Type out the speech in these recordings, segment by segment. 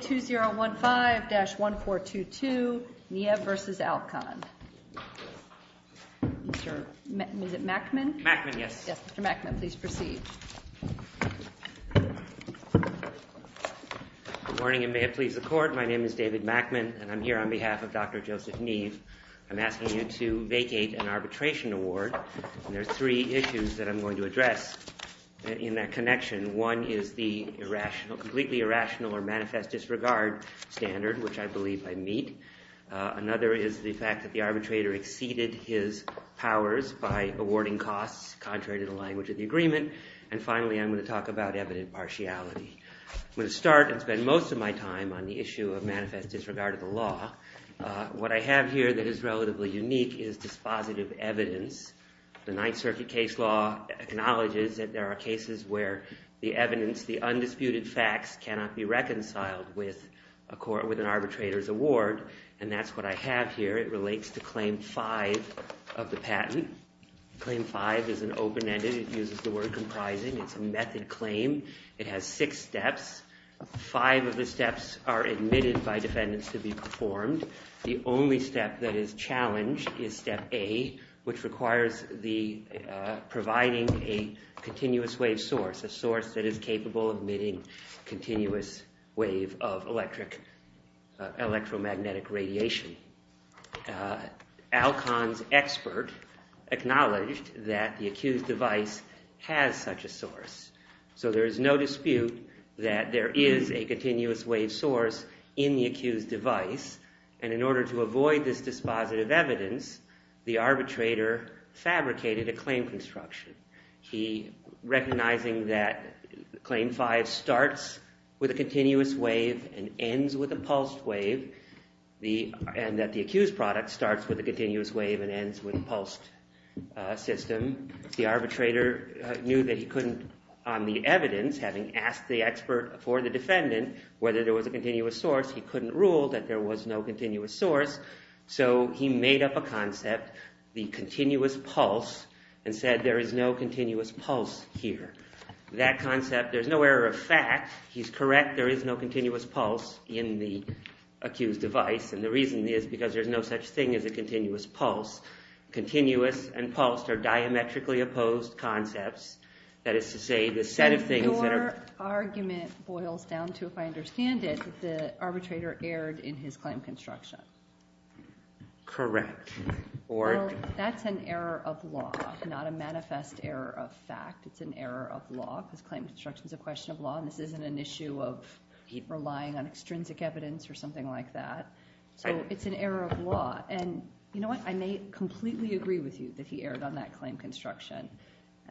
2015-1422, Niev v. Alcon. Is it Mackman? Mackman, yes. Yes, Mr. Mackman, please proceed. Good morning, and may it please the Court. My name is David Mackman, and I'm here on behalf of Dr. Joseph Niev. I'm asking you to vacate an arbitration award, and there are three issues that I'm going to address in that connection. One is the completely irrational or manifest disregard standard, which I believe I meet. Another is the fact that the arbitrator exceeded his powers by awarding costs contrary to the language of the agreement. And finally, I'm going to talk about evident partiality. I'm going to start and spend most of my time on the issue of manifest disregard of the law. What I have here that is relatively unique is dispositive evidence. The Ninth Circuit case law acknowledges that there are cases where the evidence, the undisputed facts, cannot be reconciled with an arbitrator's award. And that's what I have here. It relates to Claim 5 of the patent. Claim 5 is an open-ended. It uses the word comprising. It's a method claim. It has six steps. Five of the steps are admitted by defendants to be performed. The only step that is challenged is Step A, which requires providing a continuous wave source, a source that is capable of emitting a continuous wave of electromagnetic radiation. Alcon's expert acknowledged that the accused device has such a source. So there is no dispute that there is a continuous wave source in the accused device. And in order to avoid this dispositive evidence, the arbitrator fabricated a claim construction. He, recognizing that Claim 5 starts with a continuous wave and ends with a pulsed wave, and that the accused product starts with a continuous wave and ends with a pulsed system, the arbitrator knew that he couldn't, on the evidence, having asked the expert for the defendant whether there was a continuous source, he couldn't rule that there was no continuous source. So he made up a concept, the continuous pulse, and said there is no continuous pulse here. That concept, there's no error of fact. He's correct. There is no continuous pulse in the accused device. And the reason is because there's no such thing as a continuous pulse. Continuous and pulsed are diametrically opposed concepts. That is to say, the set of things that are- Your argument boils down to, if I understand it, that the arbitrator erred in his claim construction. Correct. Well, that's an error of law, not a manifest error of fact. It's an error of law, because claim construction is a question of law, and this isn't an issue of relying on extrinsic evidence or something like that. So it's an error of law. And you know what? I may completely agree with you that he erred on that claim construction.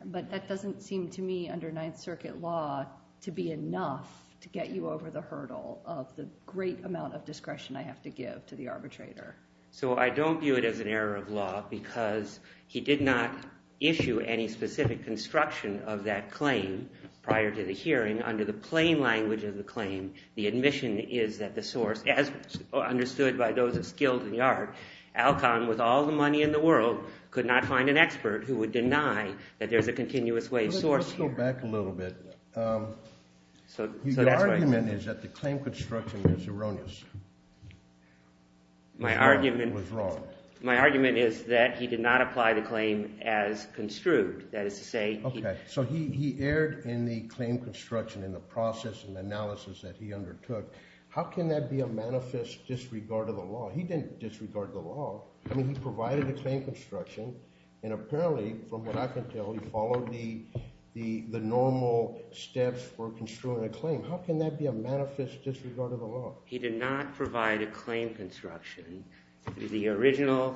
But that doesn't seem to me, under Ninth Circuit law, to be enough to get you over the hurdle of the great amount of discretion I have to give to the arbitrator. So I don't view it as an error of law because he did not issue any specific construction of that claim prior to the hearing. And under the plain language of the claim, the admission is that the source, as understood by those of skilled in the art, Alcon, with all the money in the world, could not find an expert who would deny that there's a continuous wave source here. Let's go back a little bit. The argument is that the claim construction is erroneous. My argument- Was wrong. My argument is that he did not apply the claim as construed. So he erred in the claim construction in the process and analysis that he undertook. How can that be a manifest disregard of the law? He didn't disregard the law. I mean, he provided a claim construction. And apparently, from what I can tell, he followed the normal steps for construing a claim. How can that be a manifest disregard of the law? He did not provide a claim construction. The original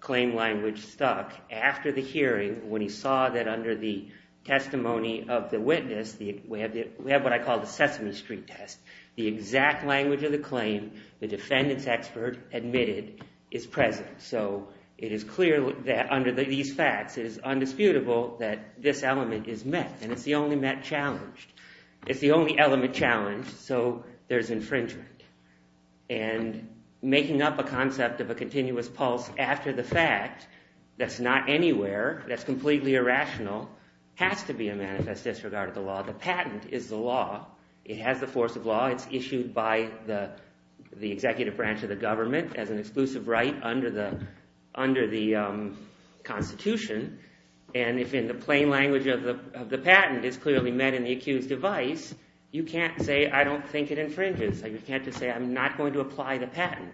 claim language stuck after the hearing when he saw that under the testimony of the witness, we have what I call the Sesame Street test. The exact language of the claim the defendant's expert admitted is present. So it is clear that under these facts, it is undisputable that this element is met. And it's the only met challenge. It's the only element challenged. So there's infringement. And making up a concept of a continuous pulse after the fact, that's not anywhere, that's completely irrational, has to be a manifest disregard of the law. The patent is the law. It has the force of law. It's issued by the executive branch of the government as an exclusive right under the Constitution. And if in the plain language of the patent, it's clearly met in the accused device, you can't say, I don't think it infringes. You can't just say, I'm not going to apply the patent.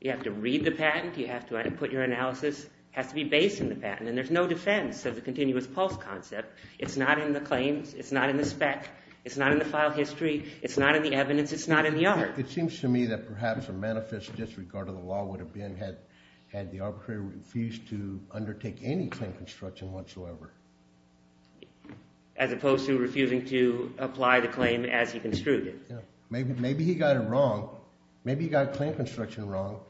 You have to read the patent. You have to put your analysis. It has to be based in the patent. And there's no defense of the continuous pulse concept. It's not in the claims. It's not in the spec. It's not in the file history. It's not in the evidence. It's not in the art. It seems to me that perhaps a manifest disregard of the law would have been had the arbitrator refused to undertake any claim construction whatsoever. As opposed to refusing to apply the claim as he construed it. Maybe he got it wrong. Maybe he got claim construction wrong.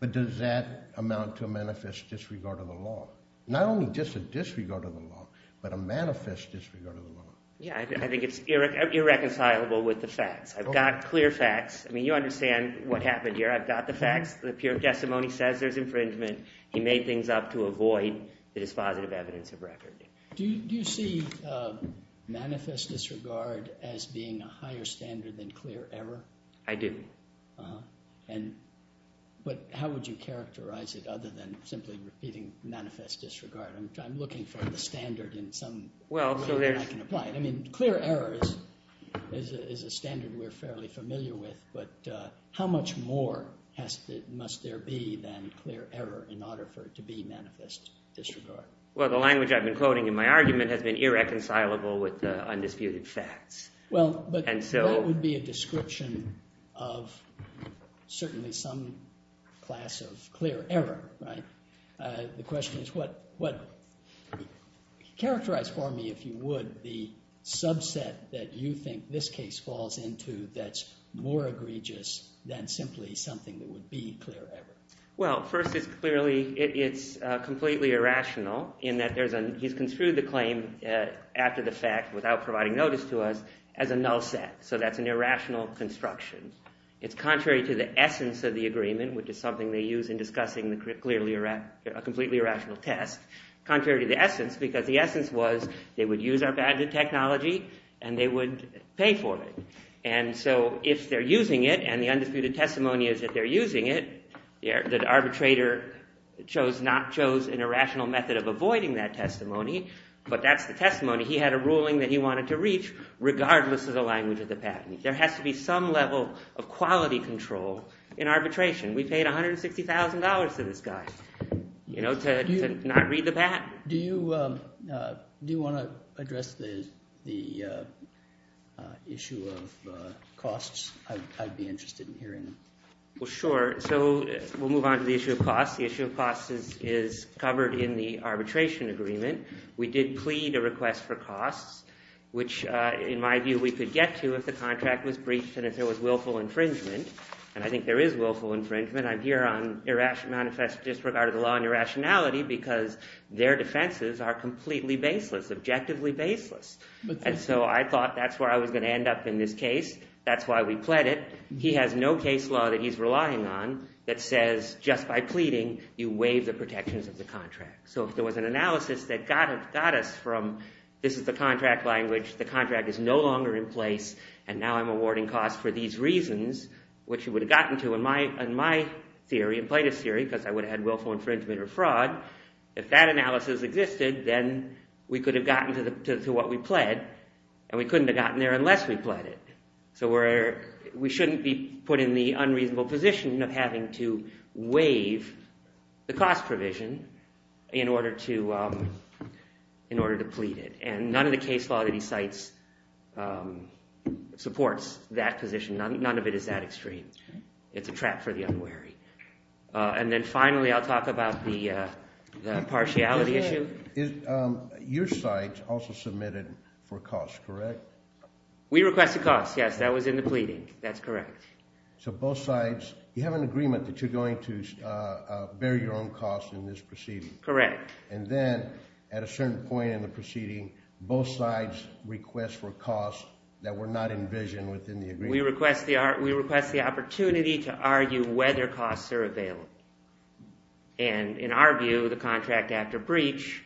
But does that amount to a manifest disregard of the law? Not only just a disregard of the law, but a manifest disregard of the law. Yeah, I think it's irreconcilable with the facts. I've got clear facts. I mean, you understand what happened here. I've got the facts. The pure testimony says there's infringement. He made things up to avoid the dispositive evidence of record. Do you see manifest disregard as being a higher standard than clear error? I do. But how would you characterize it other than simply repeating manifest disregard? I'm looking for the standard in some way that I can apply it. I mean, clear error is a standard we're fairly familiar with. But how much more must there be than clear error in order for it to be manifest disregard? Well, the language I've been quoting in my argument has been irreconcilable with the undisputed facts. Well, but that would be a description of certainly some class of clear error, right? The question is what—characterize for me, if you would, the subset that you think this case falls into that's more egregious than simply something that would be clear error. Well, first it's clearly—it's completely irrational in that there's a—he's construed the claim after the fact without providing notice to us as a null set. So that's an irrational construction. It's contrary to the essence of the agreement, which is something they use in discussing the clearly—a completely irrational test, contrary to the essence because the essence was they would use our badge of technology and they would pay for it. And so if they're using it and the undisputed testimony is that they're using it, the arbitrator chose—not chose an irrational method of avoiding that testimony, but that's the testimony. He had a ruling that he wanted to reach regardless of the language of the patent. There has to be some level of quality control in arbitration. We paid $160,000 to this guy, you know, to not read the patent. Do you want to address the issue of costs? I'd be interested in hearing them. Well, sure. So we'll move on to the issue of costs. The issue of costs is covered in the arbitration agreement. We did plead a request for costs, which in my view we could get to if the contract was breached and if there was willful infringement, and I think there is willful infringement. I'm here on manifest disregard of the law and irrationality because their defenses are completely baseless, objectively baseless. And so I thought that's where I was going to end up in this case. That's why we pled it. He has no case law that he's relying on that says just by pleading, you waive the protections of the contract. So if there was an analysis that got us from this is the contract language, the contract is no longer in place, and now I'm awarding costs for these reasons, which you would have gotten to in my theory, in plaintiff's theory, because I would have had willful infringement or fraud. If that analysis existed, then we could have gotten to what we pled, and we couldn't have gotten there unless we pled it. So we shouldn't be put in the unreasonable position of having to waive the cost provision in order to plead it. And none of the case law that he cites supports that position. None of it is that extreme. It's a trap for the unwary. And then finally I'll talk about the partiality issue. Your side also submitted for costs, correct? We requested costs, yes. That was in the pleading. That's correct. So both sides, you have an agreement that you're going to bear your own costs in this proceeding. Correct. And then at a certain point in the proceeding, both sides request for costs that were not envisioned within the agreement. We request the opportunity to argue whether costs are available. And in our view, the contract after breach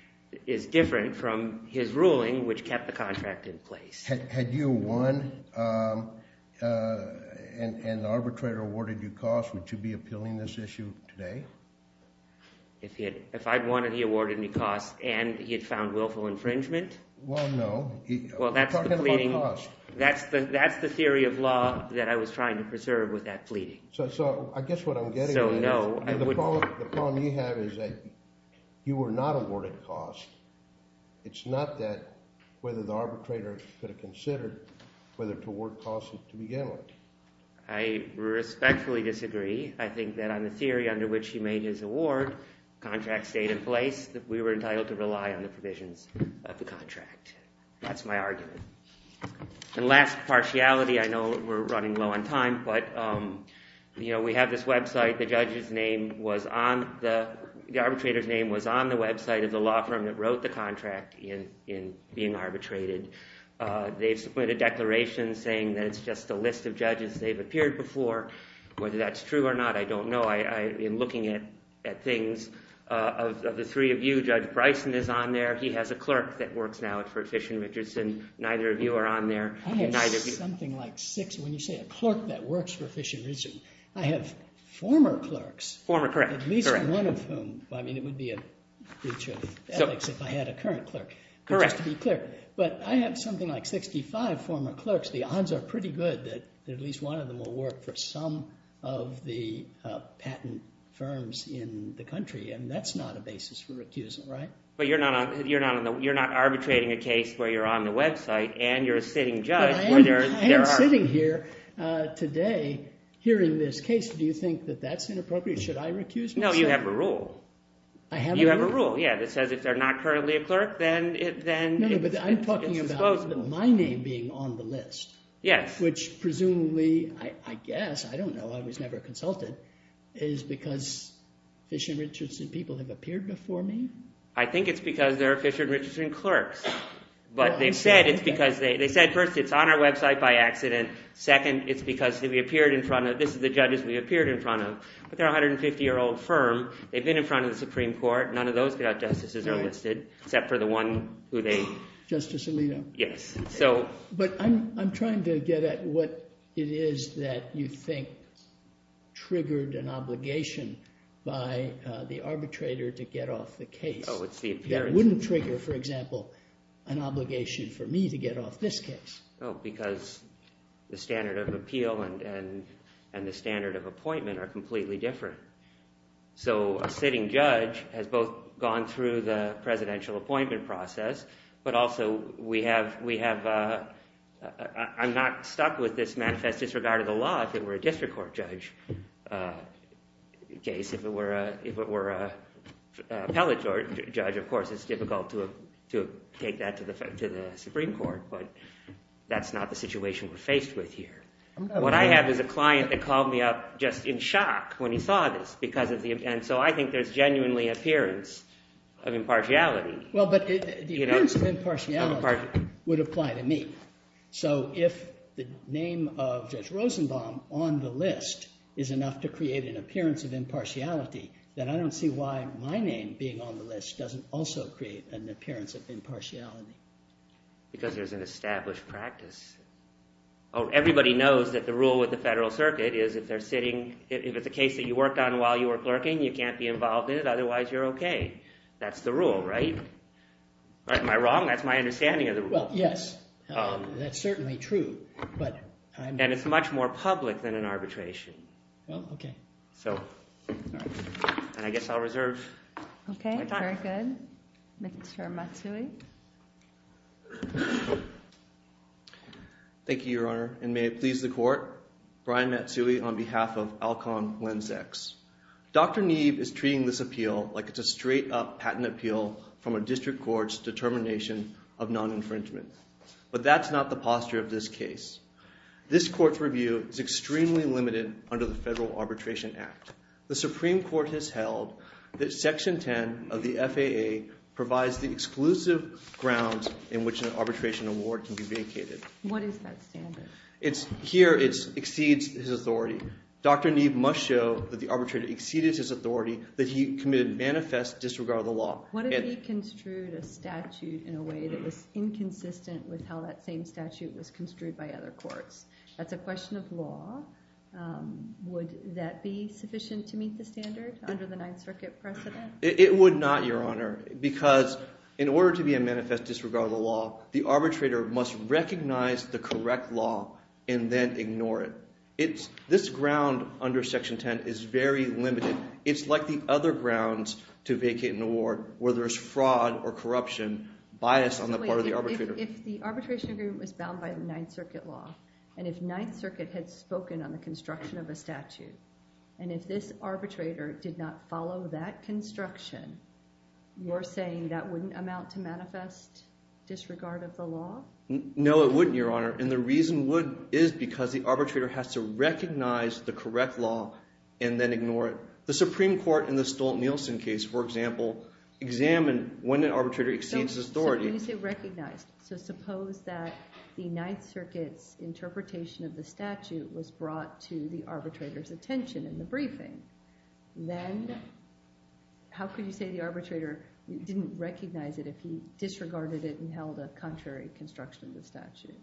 is different from his ruling, which kept the contract in place. Had you won and the arbitrator awarded you costs, would you be appealing this issue today? If I'd won and he awarded me costs and he had found willful infringement? Well, no. We're talking about costs. That's the theory of law that I was trying to preserve with that pleading. So I guess what I'm getting at is the problem you have is that you were not awarded costs. It's not that whether the arbitrator could have considered whether to award costs to begin with. I respectfully disagree. I think that on the theory under which he made his award, the contract stayed in place, that we were entitled to rely on the provisions of the contract. That's my argument. And last partiality, I know we're running low on time, but we have this website. The arbitrator's name was on the website of the law firm that wrote the contract in being arbitrated. They've submitted declarations saying that it's just a list of judges. They've appeared before. Whether that's true or not, I don't know. I've been looking at things. Of the three of you, Judge Bryson is on there. He has a clerk that works now for Fish & Richardson. Neither of you are on there. I have something like six. When you say a clerk that works for Fish & Richardson, I have former clerks. Former, correct. At least one of whom. I mean, it would be a breach of ethics if I had a current clerk, just to be clear. But I have something like 65 former clerks. The odds are pretty good that at least one of them will work for some of the patent firms in the country, and that's not a basis for recusal, right? But you're not arbitrating a case where you're on the website, and you're a sitting judge. I am sitting here today hearing this case. Do you think that that's inappropriate? Should I recuse myself? No, you have a rule. I have a rule? You have a rule, yeah, that says if they're not currently a clerk, then it's disposable. No, but I'm talking about my name being on the list, which presumably, I guess, I don't know. I was never a consultant. Is it because Fish & Richardson people have appeared before me? I think it's because they're Fish & Richardson clerks. But they said it's because they – they said first it's on our website by accident. Second, it's because we appeared in front of – this is the judges we appeared in front of. But they're a 150-year-old firm. They've been in front of the Supreme Court. None of those justices are listed except for the one who they – Justice Alito? Yes. But I'm trying to get at what it is that you think triggered an obligation by the arbitrator to get off the case. Oh, it's the appearance. That wouldn't trigger, for example, an obligation for me to get off this case. Oh, because the standard of appeal and the standard of appointment are completely different. So a sitting judge has both gone through the presidential appointment process, but also we have – I'm not stuck with this manifest disregard of the law if it were a district court judge case. If it were an appellate judge, of course, it's difficult to take that to the Supreme Court. But that's not the situation we're faced with here. What I have is a client that called me up just in shock when he saw this because of the – and so I think there's genuinely appearance of impartiality. Well, but the appearance of impartiality would apply to me. So if the name of Judge Rosenbaum on the list is enough to create an appearance of impartiality, then I don't see why my name being on the list doesn't also create an appearance of impartiality. Because there's an established practice. Oh, everybody knows that the rule with the Federal Circuit is if they're sitting – if it's a case that you worked on while you were clerking, you can't be involved in it. Otherwise, you're okay. That's the rule, right? Am I wrong? That's my understanding of the rule. Well, yes, that's certainly true. And it's much more public than an arbitration. Well, okay. So I guess I'll reserve my time. Okay, very good. Mr. Matsui? Thank you, Your Honor. And may it please the Court, Brian Matsui on behalf of Alcon Lensex. Dr. Neeb is treating this appeal like it's a straight-up patent appeal from a district court's determination of non-infringement. But that's not the posture of this case. This court's review is extremely limited under the Federal Arbitration Act. The Supreme Court has held that Section 10 of the FAA provides the exclusive grounds in which an arbitration award can be vacated. What is that standard? Here it exceeds his authority. Dr. Neeb must show that the arbitrator exceeded his authority, that he committed manifest disregard of the law. What if he construed a statute in a way that was inconsistent with how that same statute was construed by other courts? That's a question of law. Would that be sufficient to meet the standard under the Ninth Circuit precedent? It would not, Your Honor, because in order to be a manifest disregard of the law, the arbitrator must recognize the correct law and then ignore it. This ground under Section 10 is very limited. It's like the other grounds to vacate an award where there's fraud or corruption biased on the part of the arbitrator. If the arbitration agreement was bound by the Ninth Circuit law and if this arbitrator did not follow that construction, you're saying that wouldn't amount to manifest disregard of the law? No, it wouldn't, Your Honor, and the reason would is because the arbitrator has to recognize the correct law and then ignore it. The Supreme Court in the Stolt-Nielsen case, for example, examined when an arbitrator exceeds his authority. Suppose they recognized. So suppose that the Ninth Circuit's interpretation of the statute was brought to the arbitrator's attention in the briefing. Then how could you say the arbitrator didn't recognize it if he disregarded it and held a contrary construction of the statute?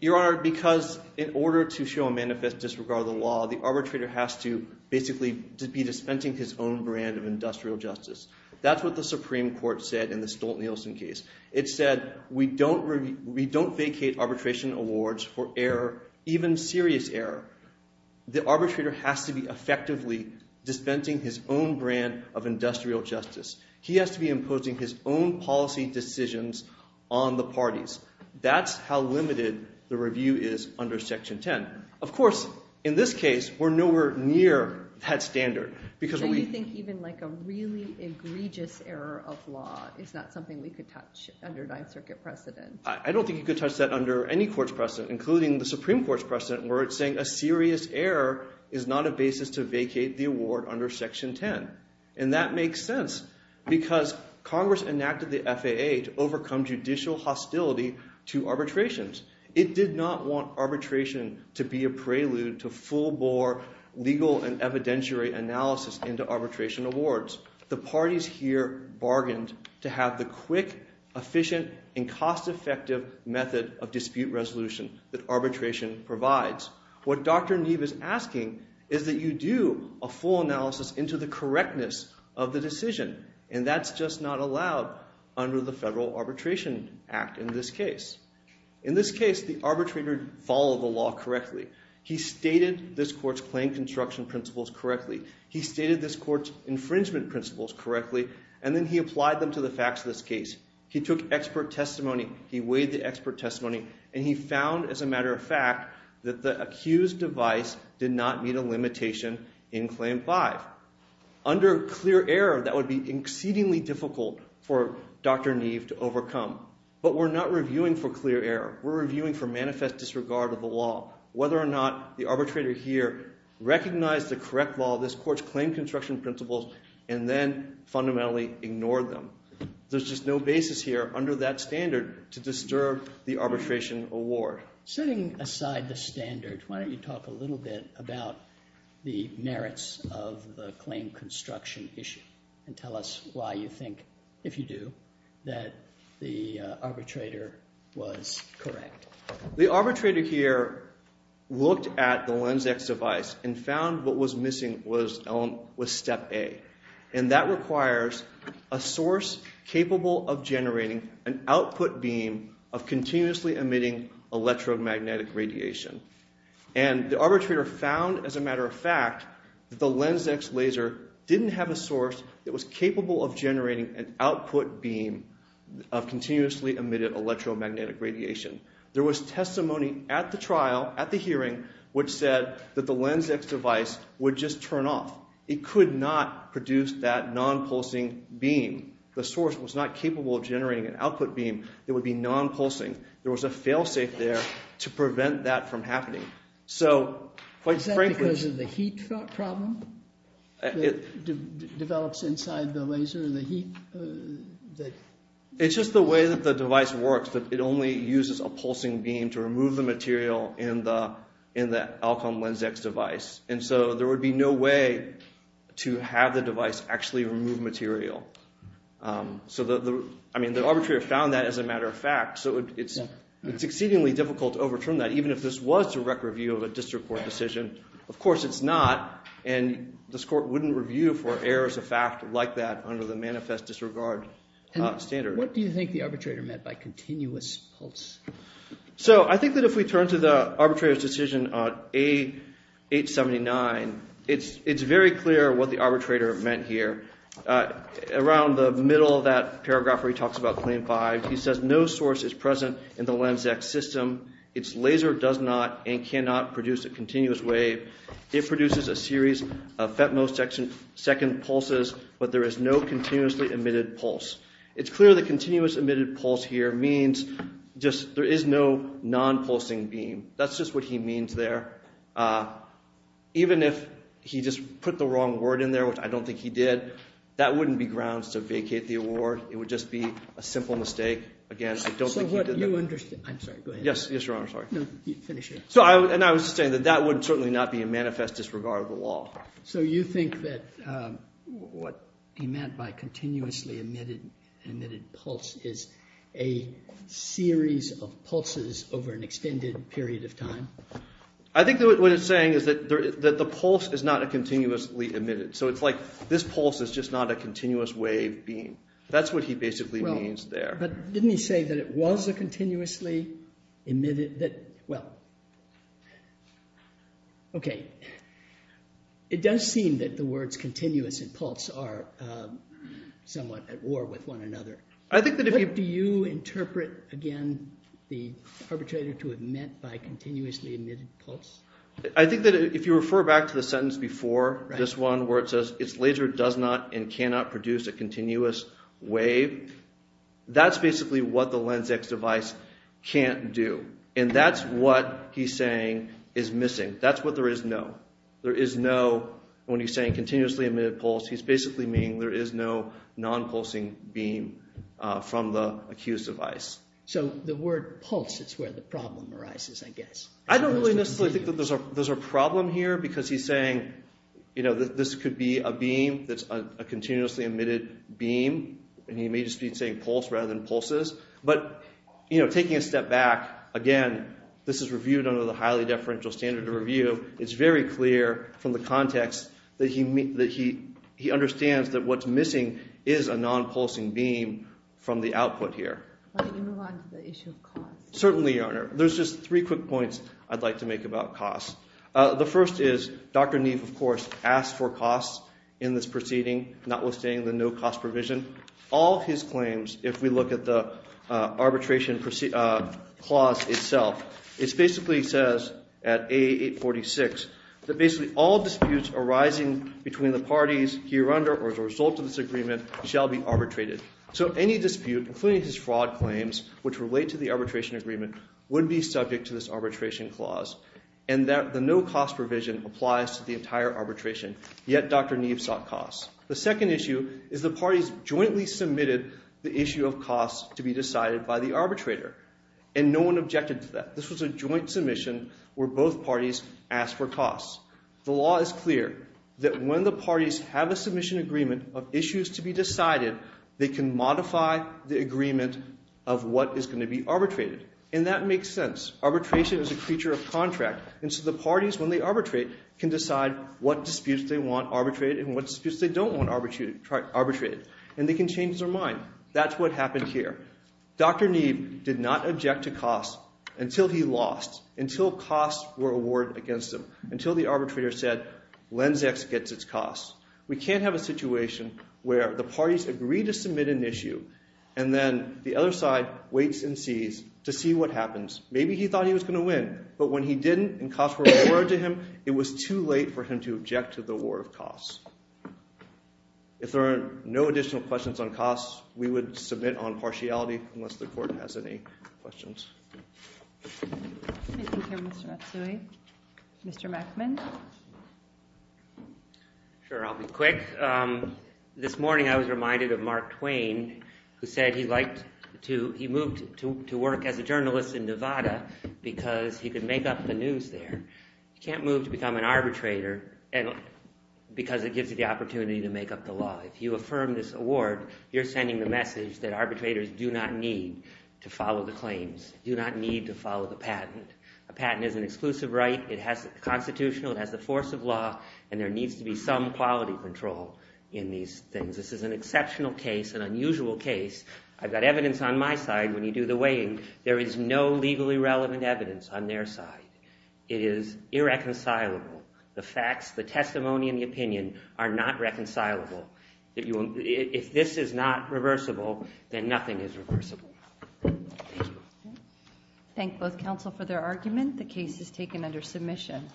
Your Honor, because in order to show a manifest disregard of the law, the arbitrator has to basically be dispensing his own brand of industrial justice. That's what the Supreme Court said in the Stolt-Nielsen case. It said we don't vacate arbitration awards for error, even serious error. The arbitrator has to be effectively dispensing his own brand of industrial justice. He has to be imposing his own policy decisions on the parties. That's how limited the review is under Section 10. Of course, in this case, we're nowhere near that standard because we— You're saying like a really egregious error of law is not something we could touch under Ninth Circuit precedent. I don't think you could touch that under any court's precedent, including the Supreme Court's precedent, where it's saying a serious error is not a basis to vacate the award under Section 10. And that makes sense because Congress enacted the FAA to overcome judicial hostility to arbitrations. It did not want arbitration to be a prelude to full-bore legal and evidentiary analysis into arbitration awards. The parties here bargained to have the quick, efficient, and cost-effective method of dispute resolution that arbitration provides. What Dr. Neve is asking is that you do a full analysis into the correctness of the decision. And that's just not allowed under the Federal Arbitration Act in this case. In this case, the arbitrator followed the law correctly. He stated this court's claim construction principles correctly. He stated this court's infringement principles correctly. And then he applied them to the facts of this case. He took expert testimony. He weighed the expert testimony. And he found, as a matter of fact, that the accused device did not meet a limitation in Claim 5. Under clear error, that would be exceedingly difficult for Dr. Neve to overcome. But we're not reviewing for clear error. We're reviewing for manifest disregard of the law, whether or not the arbitrator here recognized the correct law, this court's claim construction principles, and then fundamentally ignored them. There's just no basis here under that standard to disturb the arbitration award. Setting aside the standard, why don't you talk a little bit about the merits of the claim construction issue and tell us why you think, if you do, that the arbitrator was correct. The arbitrator here looked at the LensX device and found what was missing was step A. And that requires a source capable of generating an output beam of continuously emitting electromagnetic radiation. And the arbitrator found, as a matter of fact, that the LensX laser didn't have a source that was capable of generating an output beam of continuously emitted electromagnetic radiation. There was testimony at the trial, at the hearing, which said that the LensX device would just turn off. It could not produce that non-pulsing beam. The source was not capable of generating an output beam that would be non-pulsing. There was a fail-safe there to prevent that from happening. So, quite frankly— Is that because of the heat problem that develops inside the laser, the heat that— It's just the way that the device works. It only uses a pulsing beam to remove the material in the Alcom LensX device. And so, there would be no way to have the device actually remove material. So, I mean, the arbitrator found that, as a matter of fact. So, it's exceedingly difficult to overturn that, even if this was direct review of a district court decision. Of course, it's not. And this court wouldn't review for errors of fact like that under the manifest disregard standard. What do you think the arbitrator meant by continuous pulse? So, I think that if we turn to the arbitrator's decision on A879, it's very clear what the arbitrator meant here. Around the middle of that paragraph where he talks about Claim 5, he says, It's clear that continuous emitted pulse here means just there is no non-pulsing beam. That's just what he means there. Even if he just put the wrong word in there, which I don't think he did, that wouldn't be grounds to vacate the award. It would just be a simple mistake. Again, I don't think he did that. I'm sorry. Go ahead. Yes, Your Honor. I'm sorry. No, finish it. And I was saying that that would certainly not be a manifest disregard of the law. So, you think that what he meant by continuously emitted pulse is a series of pulses over an extended period of time? I think what he's saying is that the pulse is not a continuously emitted. So, it's like this pulse is just not a continuous wave beam. That's what he basically means there. But didn't he say that it was a continuously emitted? Well, okay. It does seem that the words continuous and pulse are somewhat at war with one another. Do you interpret, again, the arbitrator to have meant by continuously emitted pulse? I think that if you refer back to the sentence before this one where it says, its laser does not and cannot produce a continuous wave, that's basically what the LensX device can't do. And that's what he's saying is missing. That's what there is no. There is no, when he's saying continuously emitted pulse, he's basically meaning there is no non-pulsing beam from the accused device. So, the word pulse is where the problem arises, I guess. I don't really necessarily think that there's a problem here because he's saying, you know, that this could be a beam that's a continuously emitted beam, and he may just be saying pulse rather than pulses. But, you know, taking a step back, again, this is reviewed under the highly deferential standard of review. It's very clear from the context that he understands that what's missing is a non-pulsing beam from the output here. Why don't you move on to the issue of cost? Certainly, Your Honor. There's just three quick points I'd like to make about cost. The first is, Dr. Neve, of course, asked for costs in this proceeding, notwithstanding the no cost provision. All his claims, if we look at the arbitration clause itself, it basically says at AA846, that basically all disputes arising between the parties here under or as a result of this agreement shall be arbitrated. So any dispute, including his fraud claims, which relate to the arbitration agreement, would be subject to this arbitration clause. And the no cost provision applies to the entire arbitration, yet Dr. Neve sought costs. The second issue is the parties jointly submitted the issue of costs to be decided by the arbitrator, and no one objected to that. This was a joint submission where both parties asked for costs. The law is clear that when the parties have a submission agreement of issues to be decided, they can modify the agreement of what is going to be arbitrated. And that makes sense. Arbitration is a creature of contract. And so the parties, when they arbitrate, can decide what disputes they want arbitrated and what disputes they don't want arbitrated. And they can change their mind. That's what happened here. Dr. Neve did not object to costs until he lost, until costs were awarded against him, until the arbitrator said, Lenz X gets its costs. We can't have a situation where the parties agree to submit an issue and then the other side waits and sees to see what happens. Maybe he thought he was going to win, but when he didn't and costs were awarded to him, it was too late for him to object to the award of costs. If there are no additional questions on costs, we would submit on partiality, unless the court has any questions. Thank you, Mr. Matsui. Mr. Mackman? Sure, I'll be quick. This morning I was reminded of Mark Twain, who said he moved to work as a journalist in Nevada because he could make up the news there. You can't move to become an arbitrator because it gives you the opportunity to make up the law. If you affirm this award, you're sending the message that arbitrators do not need to follow the claims, do not need to follow the patent. A patent is an exclusive right. It has the constitutional, it has the force of law, and there needs to be some quality control in these things. This is an exceptional case, an unusual case. I've got evidence on my side. When you do the weighing, there is no legally relevant evidence on their side. It is irreconcilable. The facts, the testimony, and the opinion are not reconcilable. If this is not reversible, then nothing is reversible. Thank you. Thank both counsel for their argument. The case is taken under submission.